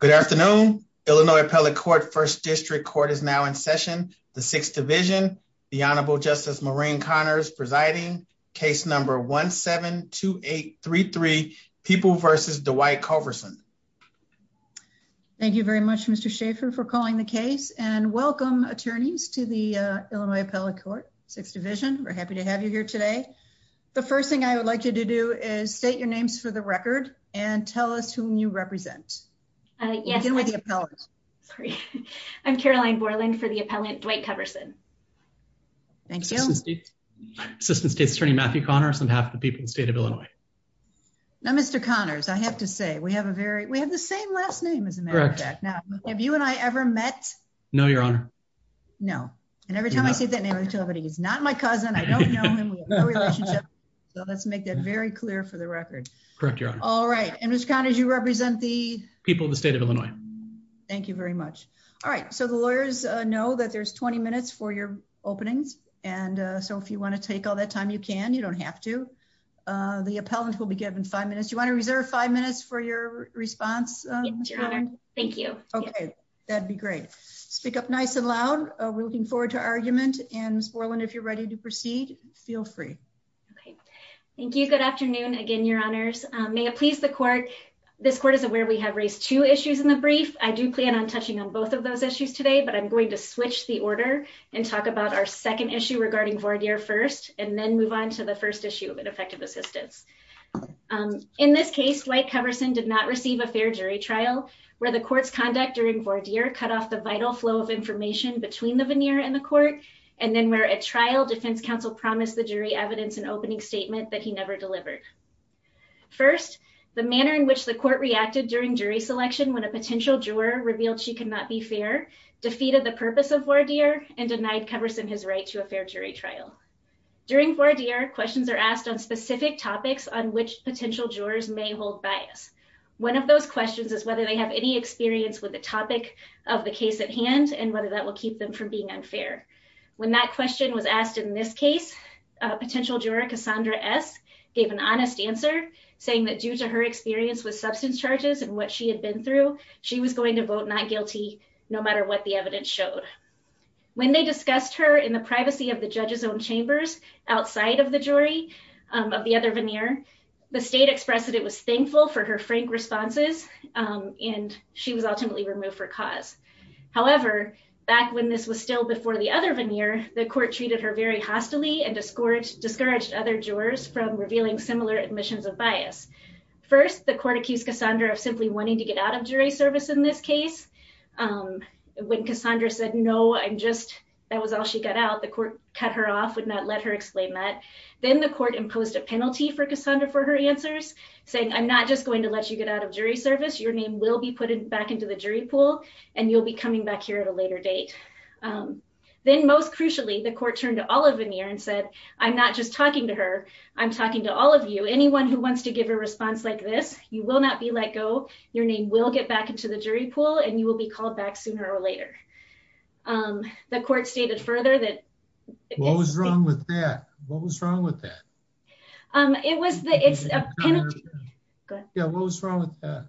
Good afternoon, Illinois Appellate Court, 1st District Court is now in session. The 6th Division, the Honorable Justice Maureen Connors presiding, case number 1-7-2833, People v. Dwight Culverson. Thank you very much, Mr. Schaffer, for calling the case, and welcome, attorneys, to the Illinois Appellate Court, 6th Division, we're happy to have you here today. The first thing I would like you to do is state your names for the record and tell us whom you represent. I'm Caroline Borland for the appellant, Dwight Culverson. Thank you. Assistant State's Attorney, Matthew Connors, on behalf of the people of the state of Illinois. Now, Mr. Connors, I have to say, we have a very, we have the same last name, as a matter of fact. Now, have you and I ever met? No, Your Honor. No. And every time I say that name, I tell everybody, he's not my cousin, I don't know him, we have no relationship. So let's make that very clear for the record. Correct, Your Honor. All right. And Mr. Connors, you represent the people of the state of Illinois. Thank you very much. All right. So the lawyers know that there's 20 minutes for your openings. And so if you want to take all that time, you can, you don't have to. The appellant will be given five minutes. You want to reserve five minutes for your response? Yes, Your Honor. Thank you. Okay, that'd be great. Speak up nice and loud. We're looking forward to argument. And Ms. Borland, if you're ready to proceed, feel free. Okay. Thank you. Good afternoon, again, Your Honors. May it please the court. This court is aware we have raised two issues in the brief. I do plan on touching on both of those issues today, but I'm going to switch the order and talk about our second issue regarding voir dire first, and then move on to the first issue of ineffective assistance. In this case, White Coverson did not receive a fair jury trial, where the court's conduct during voir dire cut off the vital flow of information between the veneer and the court. And then where a trial defense counsel promised the jury evidence and opening statement that he never delivered. First, the manner in which the court reacted during jury selection when a potential juror revealed she could not be fair, defeated the purpose of voir dire, and denied Coverson his right to a fair jury trial. During voir dire, questions are asked on specific topics on which potential jurors may hold bias. One of those questions is whether they have any experience with the topic of the case at hand and whether that will keep them from being unfair. When that question was asked in this case, potential juror Cassandra S. gave an honest answer, saying that due to her experience with substance charges and what she had been through, she was going to vote not guilty, no matter what the evidence showed. When they discussed her in the privacy of the judge's own chambers outside of the jury of the other veneer, the state expressed that it was thankful for her frank responses, and she was ultimately removed for cause. However, back when this was still before the other veneer, the court treated her very hostily and discouraged other jurors from revealing similar admissions of bias. First, the court accused Cassandra of simply wanting to get out of jury service in this case. When Cassandra said, no, I'm just, that was all she got out, the court cut her off, would not let her explain that. Then the court imposed a penalty for Cassandra for her answers, saying, I'm not just going to let you get out of jury service. Your name will be put back into the jury pool, and you'll be coming back here at a later date. Then most crucially, the court turned to all of veneer and said, I'm not just talking to her. I'm talking to all of you. Anyone who wants to give a response like this, you will not be let go. Your name will get back into the jury pool, and you will be called back sooner or later. The court stated further that... What was wrong with that? What was wrong with that? It was the... Go ahead. Yeah, what was wrong with that?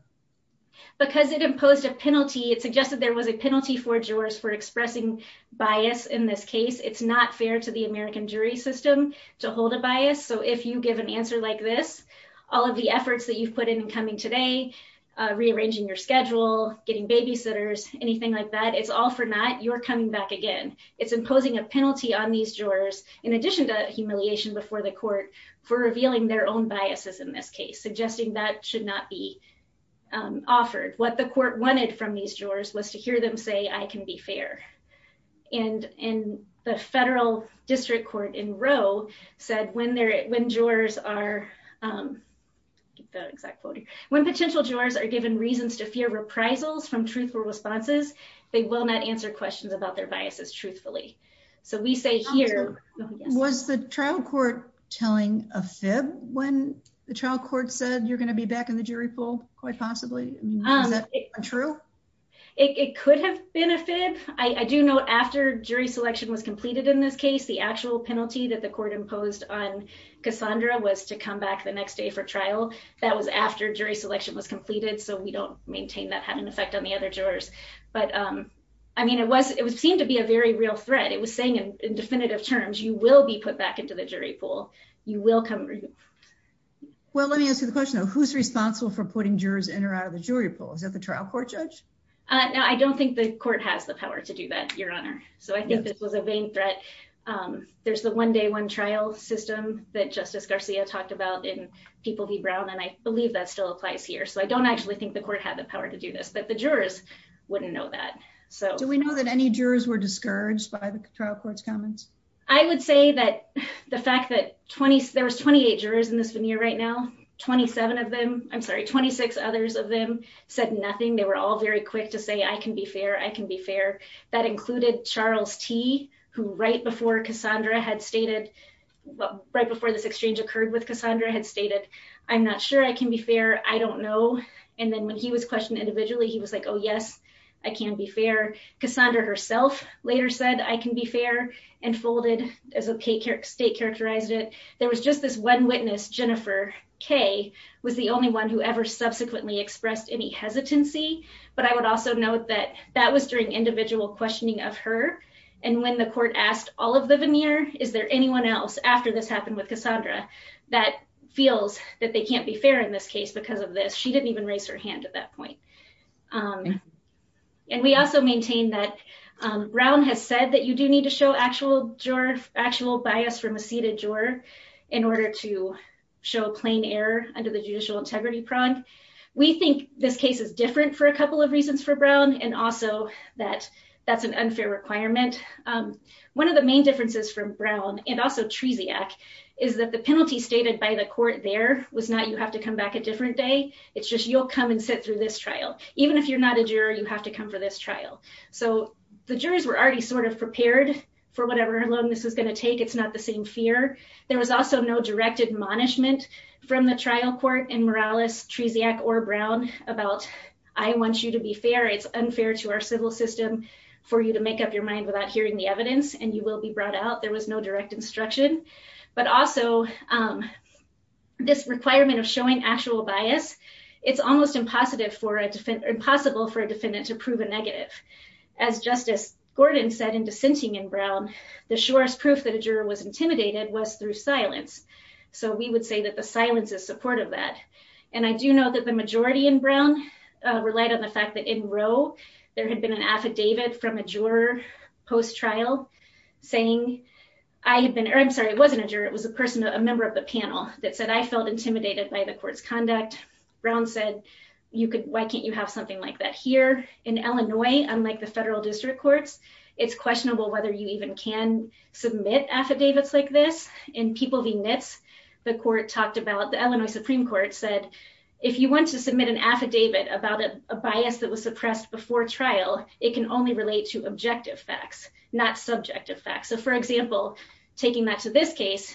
Because it imposed a penalty, it suggested there was a penalty for jurors for expressing bias in this case. It's not fair to the American jury system to hold a bias. So if you give an answer like this, all of the efforts that you've put in and coming today, rearranging your schedule, getting babysitters, anything like that, it's all for naught. You're coming back again. It's imposing a penalty on these jurors, in addition to humiliation before the court, for revealing their own biases in this case, suggesting that should not be offered. What the court wanted from these jurors was to hear them say, I can be fair. And the federal district court in Roe said when jurors are... The exact quote here. When potential jurors are given reasons to fear reprisals from truthful responses, they will not answer questions about their biases truthfully. So we say here... Was the trial court telling a fib when the trial court said you're going to be back in the jury pool quite possibly? Is that true? It could have been a fib. I do know after jury selection was completed in this case, the actual penalty that the court imposed on Cassandra was to come back the next day for trial. That was after jury selection was completed. So we don't maintain that had an effect on the other jurors. But I mean, it seemed to be a very real threat. It was saying in definitive terms, you will be put back into the jury pool. You will come... Well, let me ask you the question, though. Who's responsible for putting jurors in or out of the jury pool? Is that the trial court judge? No, I don't think the court has the power to do that, Your Honor. So I think this was a vain threat. There's the one day one trial system that Justice Garcia talked about in People v. Brown. And I believe that still applies here. So I don't actually think the court had the power to do this. But the jurors wouldn't know that. Do we know that any jurors were discouraged by the trial court's comments? I would say that the fact that there was 28 jurors in this veneer right now, 27 of them, I'm sorry, 26 others of them said nothing. They were all very quick to say, I can be fair. I can be fair. That included Charles T., who right before Cassandra had stated, right before this exchange occurred with Cassandra, had stated, I'm not sure I can be fair. I don't know. And then when he was questioned individually, he was like, oh, yes, I can be fair. Cassandra herself later said, I can be fair, and folded as a state characterized it. There was just this one witness, Jennifer K., was the only one who ever subsequently expressed any hesitancy. But I would also note that that was during individual questioning of her. And when the court asked all of the veneer, is there anyone else after this happened with Cassandra that feels that they can't be fair in this case because of this? She didn't even raise her hand at that point. And we also maintain that Brown has said that you do need to show actual bias from a seated juror in order to show a plain error under the judicial integrity prong. We think this case is different for a couple of reasons for Brown, and also that that's an unfair requirement. One of the main differences from Brown and also Tresiak is that the penalty stated by the court there was not you have to come back a different day. It's just, you'll come and sit through this trial. Even if you're not a juror, you have to come for this trial. So the jurors were already sort of prepared for whatever alone this is going to take. It's not the same fear. There was also no direct admonishment from the trial court and Morales, Tresiak, or Brown about, I want you to be fair. It's unfair to our civil system for you to make up your mind without hearing the evidence and you will be brought out. There was no direct instruction, but also this requirement of showing actual bias, it's almost impossible for a defendant to prove a negative. As Justice Gordon said in dissenting in Brown, the surest proof that a juror was intimidated was through silence. So we would say that the silence is supportive of that. And I do know that the majority in Brown relied on the fact that in row, there had been an affidavit from a juror post-trial saying, I had been, or I'm sorry, it wasn't a juror. It was a person, a member of the panel that said, I felt intimidated by the court's conduct. Brown said, you could, why can't you have something like that here in Illinois? Unlike the federal district courts, it's questionable whether you even can submit affidavits like this and people be knits. The court talked about the Illinois Supreme court said, if you want to submit an affidavit about a bias that was suppressed before trial, it can only relate to objective facts, not subjective facts. So for example, taking that to this case,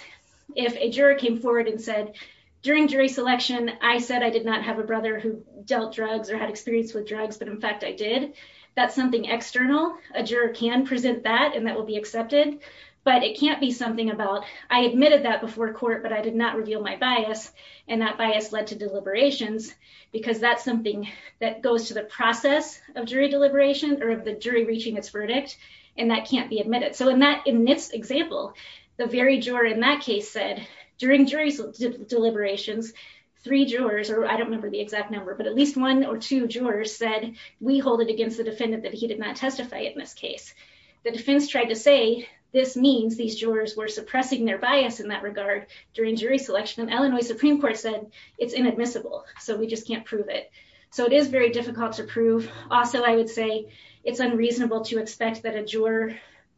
if a juror came forward and said during jury selection, I said I did not have a brother who dealt drugs or had experience with drugs, but in fact I did, that's something external. A juror can present that and that will be accepted, but it can't be something about, I admitted that before court, but I did not reveal my bias. And that bias led to deliberations because that's something that goes to the process of jury deliberation or of the jury reaching its verdict. And that can't be admitted. So in that example, the very juror in that case said during jury deliberations, three jurors, or I don't remember the exact number, but at least one or two jurors said we hold it against the defendant that he did not testify in this case. The defense tried to say, this means these jurors were suppressing their bias in that regard during jury selection and Illinois Supreme court said it's inadmissible. So we just can't prove it. So it is very difficult to prove. Also, I would say it's unreasonable to expect that a juror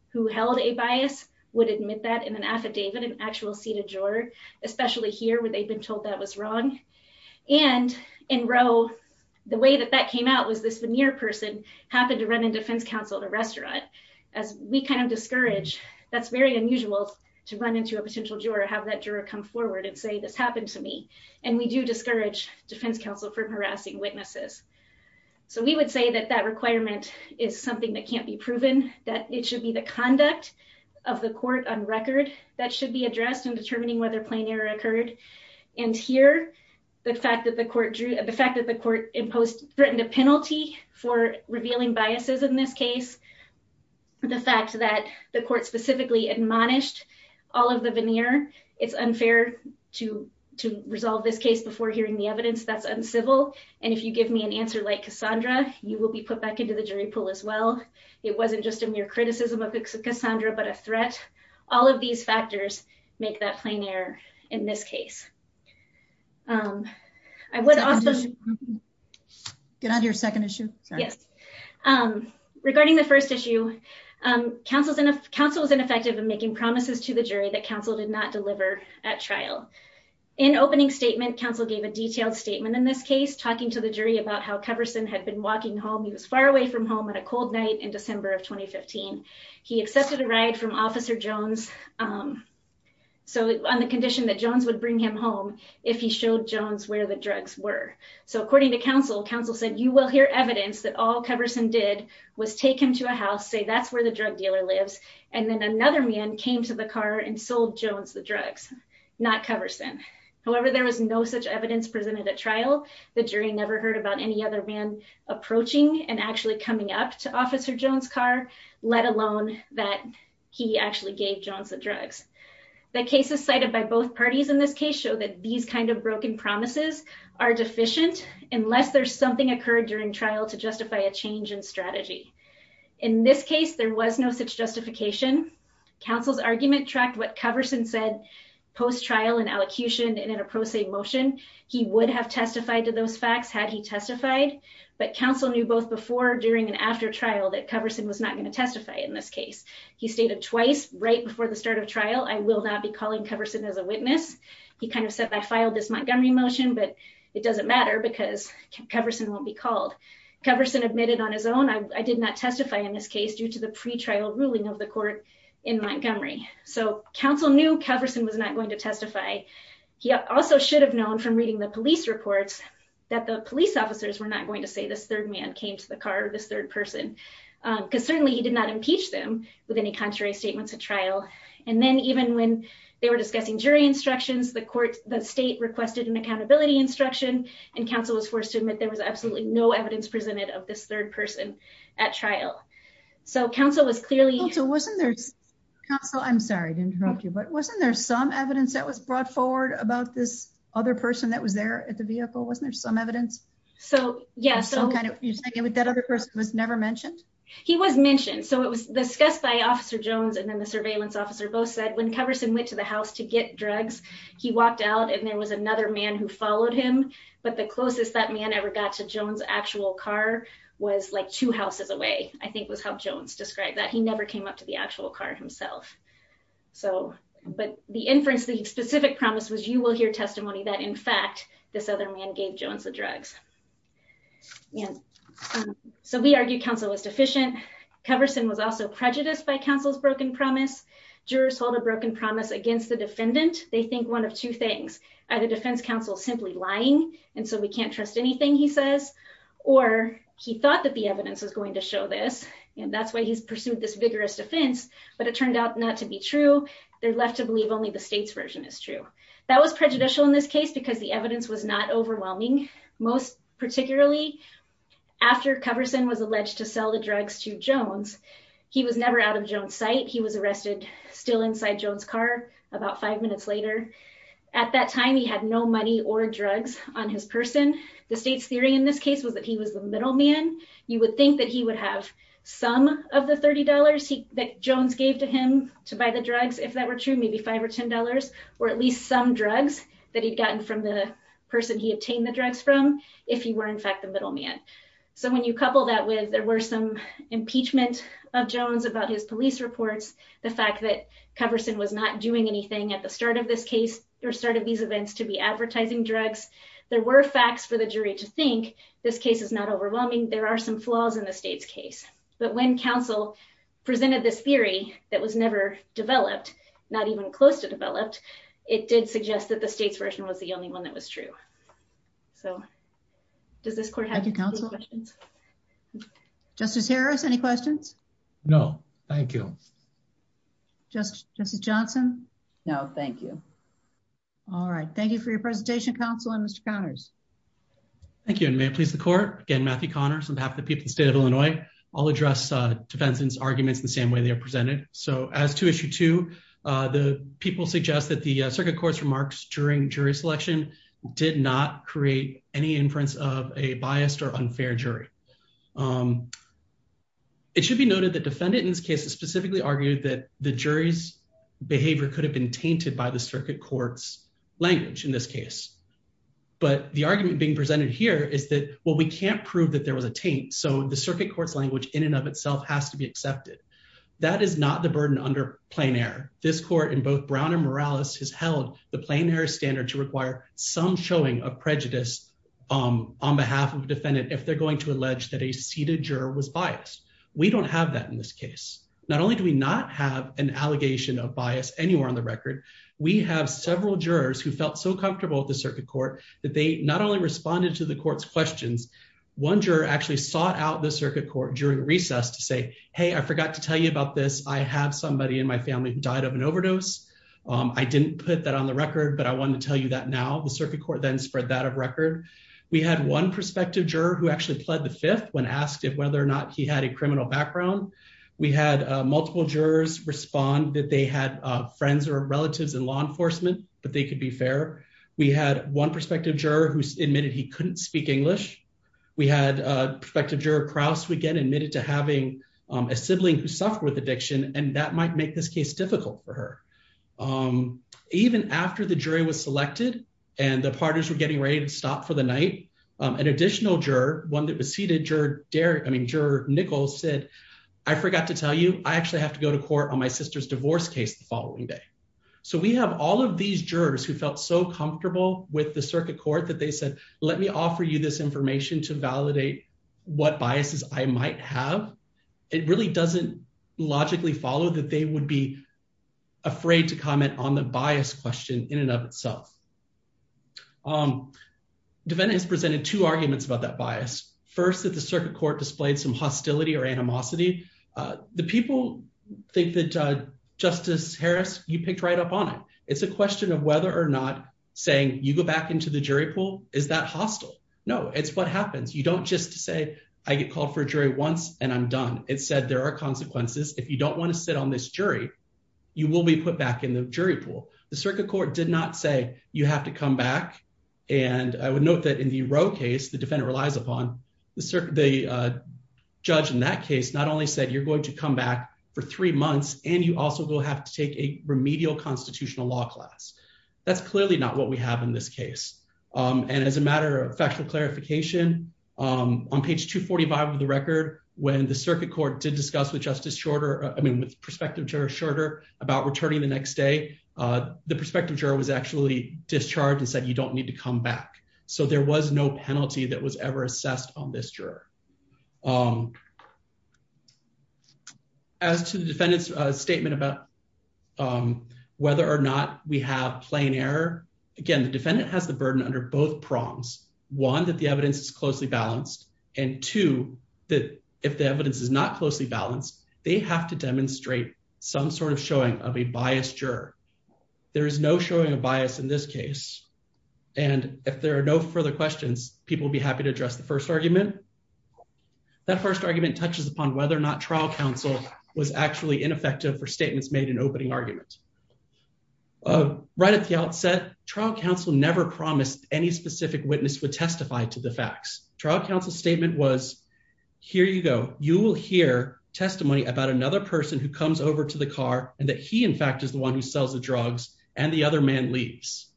who held a bias would admit that in an affidavit, an actual seated juror, especially here where they've been told that was wrong. And in row, the way that that came out was this veneer person happened to run in defense counsel at a restaurant. As we kind of discourage, that's very unusual to run into a potential juror, have that juror come forward and say, this happened to me. And we do discourage defense counsel from harassing witnesses. So we would say that that requirement is something that can't be proven that it should be the conduct of the court on record. That should be addressed in determining whether plain error occurred. And here, the fact that the court drew, the fact that the court imposed threatened a penalty for revealing biases in this case, the fact that the court specifically admonished all of the veneer, it's unfair to, to resolve this case before hearing the evidence that's uncivil. And if you give me an answer, like Cassandra, you will be put back into the jury pool as well. It wasn't just a mere criticism of Cassandra, but a threat, all of these factors make that plain air in this case. I would also get out of your second issue. Yes. Regarding the first issue council's in a council was ineffective in making promises to the jury that council did not deliver at trial in opening statement. Council gave a detailed statement in this case, talking to the jury about how Carverson had been walking home. He was far away from home on a cold night in December of 2015. He accepted a ride from officer Jones. So on the condition that Jones would bring him home, if he showed Jones where the drugs were. So according to counsel, council said, you will hear evidence that all covered some did was take him to a house, say that's where the drug dealer lives. And then another man came to the car and sold Jones, the drugs, not covers them. However, there was no such evidence presented at trial. The jury never heard about any other man approaching and actually coming up to officer Jones car, let alone that. He actually gave Jones the drugs. The cases cited by both parties in this case show that these kinds of broken promises are deficient unless there's something occurred during trial to justify a change in strategy. In this case, there was no such justification. Council's argument tracked, what covers and said post trial and allocution in an approach, a motion he would have testified to those facts had he testified, but council knew both before, during, and after trial that covers him was not going to testify in this case. He stated twice right before the start of trial. I will not be calling covers it as a witness. He kind of said, I filed this Montgomery motion, but it doesn't matter because covers and won't be called covers. And admitted on his own. I did not testify in this case due to the pretrial ruling of the court in Montgomery. So council knew covers and was not going to testify. He also should have known from reading the police reports that the police officers were not going to say this third man came to the car, this third person. Cause certainly he did not impeach them with any contrary statements at trial. And then even when they were discussing jury instructions, the court, the state requested an accountability instruction and council was forced to say, no evidence presented of this third person at trial. So council was clearly wasn't there. I'm sorry to interrupt you, but wasn't there some evidence that was brought forward about this other person that was there at the vehicle? Wasn't there some evidence? So yeah, that other person was never mentioned. He was mentioned. So it was discussed by officer Jones and then the surveillance officer both said when covers and went to the house to get drugs, he walked out and there was another man who followed him, but the closest that man ever got to Jones actual car was like two houses away. I think was how Jones described that. He never came up to the actual car himself. So, but the inference, the specific promise was you will hear testimony that in fact, this other man gave Jones the drugs. Yeah. So we argued council was deficient. Coverson was also prejudiced by council's broken promise. Jurors hold a broken promise against the defendant. They think one of two things, either defense council simply lying. And so we can't trust anything he says, or he thought that the evidence was going to show this. And that's why he's pursued this vigorous defense, but it turned out not to be true. They're left to believe only the state's version is true. That was prejudicial in this case because the evidence was not overwhelming. Most particularly after covers and was alleged to sell the drugs to Jones. He was never out of Jones site. He was arrested still inside Jones car about five minutes later at that time, he had no money or drugs on his person. The state's theory in this case was that he was the middle man. You would think that he would have some of the $30 that Jones gave to him to buy the drugs. If that were true, maybe five or $10 or at least some drugs that he'd gotten from the person. He obtained the drugs from if he were in fact the middle man. So when you couple that with, There were some impeachment of Jones about his police reports. The fact that covers and was not doing anything at the start of this case or started these events to be advertising drugs. There were facts for the jury to think this case is not overwhelming. There are some flaws in the state's case, but when council presented this theory that was never developed, not even close to developed, it did suggest that the state's version was the only one that was true. So does this court have. Thank you counsel. Justice Harris. Any questions? No, thank you. Just justice Johnson. No, thank you. All right. Thank you for your presentation council and Mr. Connors. Thank you. And may it please the court. Again, Matthew Connors on behalf of the people, the state of Illinois, all address defense arguments the same way they are presented. So as to issue two, the people suggest that the circuit court's remarks during jury selection did not create any inference of a biased or unfair jury. It should be noted that defendant in this case is specifically argued that the jury's behavior could have been tainted by the circuit court's language in this case. But the argument being presented here is that, well, we can't prove that there was a taint. So the circuit court's language in and of itself has to be accepted. That is not the burden under plain air. This court in both Brown and Morales has held the plain air standard to require some showing of prejudice on behalf of defendant. If they're going to allege that a seated juror was biased, we don't have that in this case. Not only do we not have an allegation of bias anywhere on the record, we have several jurors who felt so comfortable with the circuit court that they not only responded to the court's questions. One juror actually sought out the circuit court during the recess to say, Hey, I forgot to tell you about this. I have somebody in my family who died of an overdose. I didn't put that on the record, but I wanted to tell you that now the circuit court then spread that of record. We had one perspective juror who actually pled the fifth when asked if whether or not he had a criminal background. We had multiple jurors respond that they had friends or relatives in law enforcement, but they could be fair. We had one perspective juror who admitted he couldn't speak English. We had a perspective juror Crouse, we get admitted to having a sibling who suffered with addiction and that might make this case difficult for her. Even after the jury was selected and the partners were getting ready to stop for the night, an additional juror, one that was seated, juror, Derek, I mean, juror Nichols said, I forgot to tell you, I actually have to go to court on my sister's divorce case the following day. So we have all of these jurors who felt so comfortable with the circuit court that they said, let me offer you this information to validate what biases I might have. It really doesn't logically follow that they would be afraid to comment on the bias question in and of itself. Devena has presented two arguments about that bias. First that the circuit court displayed some hostility or animosity. The people think that justice Harris, you picked right up on it. It's a question of whether or not saying you go back into the jury pool. Is that hostile? No, it's what happens. You don't just say, I get called for a jury once and I'm done. It said, there are consequences. If you don't want to sit on this jury, you will be put back in the jury pool. The circuit court did not say you have to come back. And I would note that in the row case, the defendant relies upon the circuit. Judge in that case, not only said you're going to come back for three months and you also will have to take a remedial constitutional law class. That's clearly not what we have in this case. And as a matter of factual clarification on page two 45 of the record, when the circuit court did discuss with justice shorter, I mean, with prospective juror shorter about returning the next day the prospective juror was actually discharged and said, you don't need to come back. So there was no penalty that was ever assessed on this juror. As to the defendant's statement about whether or not we have plain error. Again, the defendant has the burden under both prongs. One, that the evidence is closely balanced. And two, that if the evidence is not closely balanced, they have to demonstrate some sort of showing of a biased juror. There is no showing a bias in this case. And if there are no further questions, people will be happy to address the first argument. That first argument touches upon whether or not trial counsel was actually ineffective for statements made in opening argument. Right at the outset, trial counsel never promised any specific witness would testify to the facts. Trial counsel statement was, here you go. You will hear testimony about another person who comes over to the car and that he in fact is the one who sells the drugs and the other man leaves.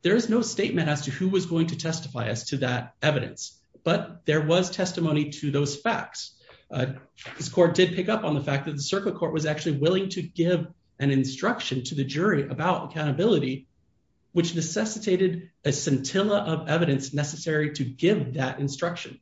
There is no statement as to who was going to testify as to that evidence, but there was testimony to those facts. This court did pick up on the fact that the circuit court was actually willing to give an instruction to the jury about accountability, which necessitated a scintilla of evidence necessary to give that instruction.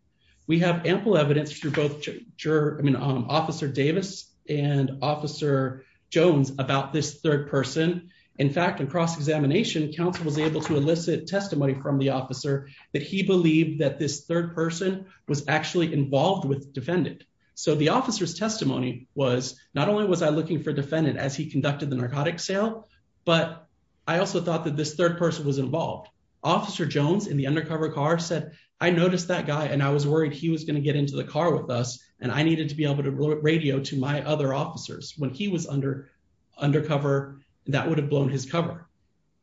We have ample evidence through both juror, I mean, officer Davis and officer Jones about this third person. In fact, in cross-examination, counsel was able to elicit testimony from the officer that he believed that this third person was actually involved with defendant. So the officer's testimony was not only was I looking for defendant as he conducted the narcotics sale, but I also thought that this third person was involved. Officer Jones in the undercover car said, I noticed that guy and I was worried he was going to get into the car with us and I needed to be able to radio to my other officers when he was under undercover, that would have blown his cover.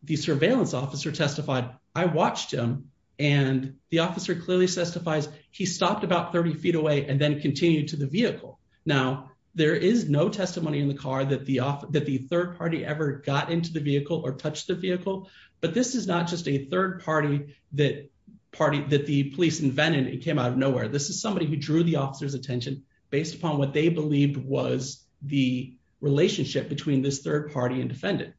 The surveillance officer testified. I watched him and the officer clearly testifies. He stopped about 30 feet away and then continued to the vehicle. Now there is no testimony in the car that the off that the third party ever got into the vehicle or touched the vehicle, but this is not just a third party, that party that the police invented. It came out of nowhere. This is somebody who drew the officer's attention based upon what they believed was the relationship between this third party and defendant.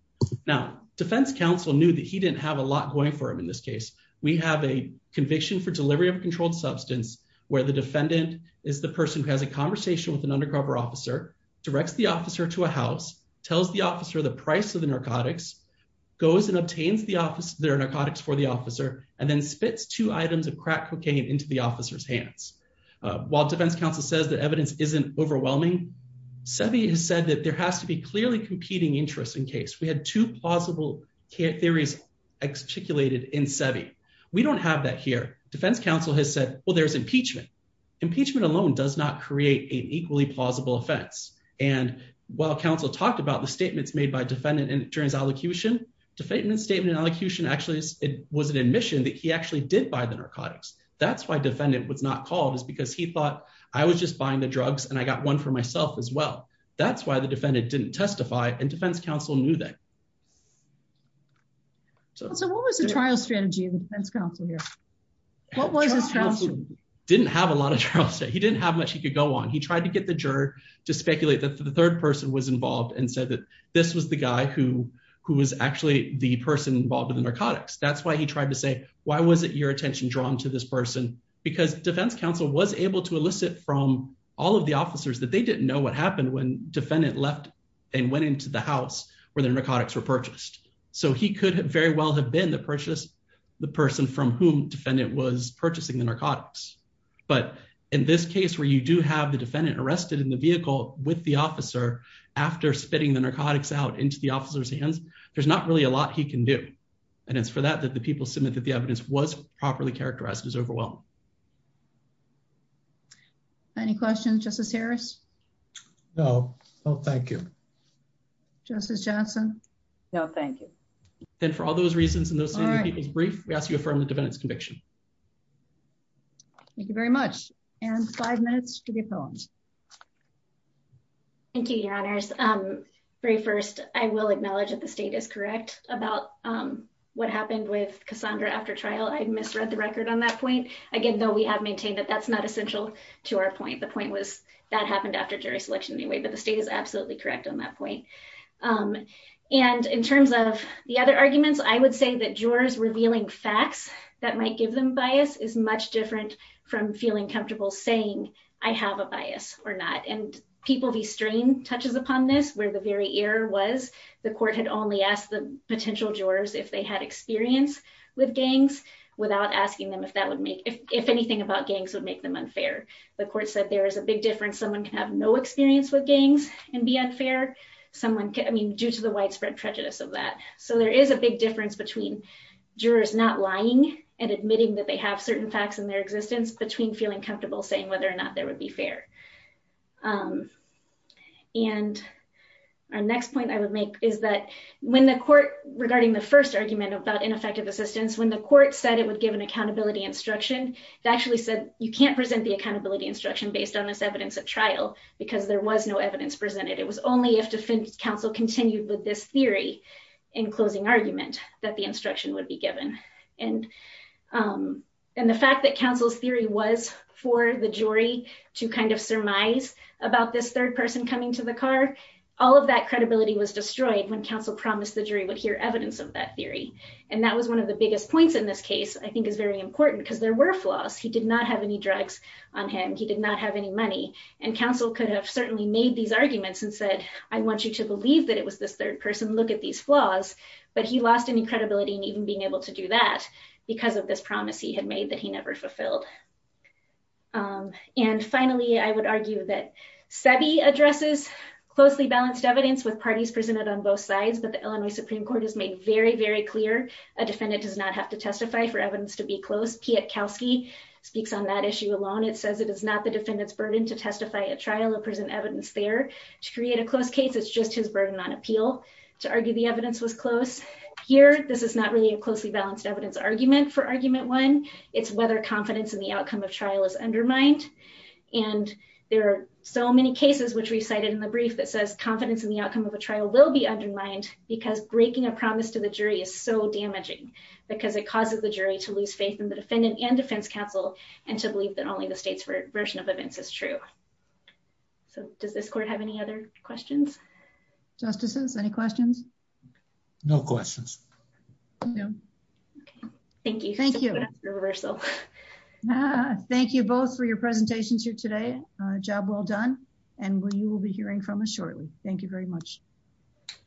Now defense counsel knew that he didn't have a lot going for him. In this case, we have a conviction for delivery of controlled substance, where the defendant is the person who has a conversation with an undercover officer, directs the officer to a house, tells the officer the price of the narcotics goes and obtains the office, their narcotics for the officer, and then spits two items of crack cocaine into the officer's hands. While defense counsel says that evidence isn't overwhelming, semi has said that there has to be clearly competing interest in case we had two plausible theories articulated in semi. We don't have that here. Defense counsel has said, well, there's impeachment. Impeachment alone does not create an equally plausible offense. And while counsel talked about the statements made by defendant and during his allocution defatement statement and allocution, actually it was an admission that he actually did buy the narcotics. That's why defendant was not called is because he thought I was just buying the drugs and I got one for myself as well. That's why the defendant didn't testify and defense counsel knew that. So what was the trial strategy? What was his trial strategy? Didn't have a lot of trials. He didn't have much he could go on. He tried to get the juror to speculate that the third person was involved and said that this was the guy who, who was actually the person involved in the narcotics. That's why he tried to say, why was it your attention drawn to this person? Because defense counsel was able to elicit from all of the officers that they didn't know what happened when defendant left and went into the house where the narcotics were purchased. So he could have very well have been the purchase, the person from whom defendant was purchasing the narcotics. But in this case where you do have the defendant arrested in the vehicle with the officer, after spitting the narcotics out into the officer's hands, there's not really a lot he can do. And it's for that that the people submit that the evidence was properly characterized as overwhelmed. Any questions, justice Harris? No. Oh, thank you. Justice Johnson. No, thank you. Then for all those reasons and those brief, we ask you to affirm the defendant's conviction. Thank you very much. And five minutes to be phones. Thank you, your honors. Very first I will acknowledge that the state is correct about what happened with Cassandra after trial. I misread the record on that point. Again, though we have maintained that that's not essential to our point. The point was that happened after jury selection anyway, but the state is absolutely correct on that point. And in terms of the other arguments, I would say that jurors revealing facts that might give them bias is much different from feeling comfortable saying I have a bias or not. And people, these strain touches upon this, where the very air was, the court had only asked the potential jurors if they had experience with gangs, if anything about gangs would make them unfair. The court said there is a big difference. Someone can have no experience with gangs and be unfair. Someone can, I mean, due to the widespread prejudice of that. So there is a big difference between jurors not lying and admitting that they have certain facts in their existence between feeling comfortable saying whether or not there would be fair. And our next point I would make is that when the court regarding the first argument about ineffective assistance, when the court said it would give an accountability instruction, it actually said you can't present the accountability instruction based on this evidence at trial, because there was no evidence presented. It was only if defense counsel continued with this theory in closing argument that the instruction would be given. And and the fact that counsel's theory was for the jury to kind of surmise about this third person coming to the car. All of that credibility was destroyed when counsel promised the jury would hear evidence of that theory. And that was one of the biggest points in this case, I think is very important because there were flaws. He did not have any drugs on him. He did not have any money and counsel could have certainly made these arguments and said, I want you to believe that it was this third person. Look at these flaws, but he lost any credibility and even being able to do that because of this promise he had made that he never fulfilled. And finally, I would argue that SEBI addresses closely balanced evidence with parties presented on both sides. But the Illinois Supreme Court has made very, very clear. A defendant does not have to testify for evidence to be close. Pietkowski speaks on that issue alone. It says it is not the defendant's burden to testify at trial or present evidence there to create a close case. It's just his burden on appeal to argue the evidence was close here. This is not really a closely balanced evidence argument for argument one. It's whether confidence in the outcome of trial is undermined. And there are so many cases, which we cited in the brief that says confidence in the outcome of a trial will be undermined because breaking a promise to the jury is so damaging because it causes the jury to lose faith in the defendant and defense counsel. And to believe that only the state's version of events is true. So does this court have any other questions? Justices, any questions? No questions. No. Okay. Thank you. Thank you both for your presentations here today. We appreciate it. Job well done. And we will be hearing from us shortly. Thank you very much.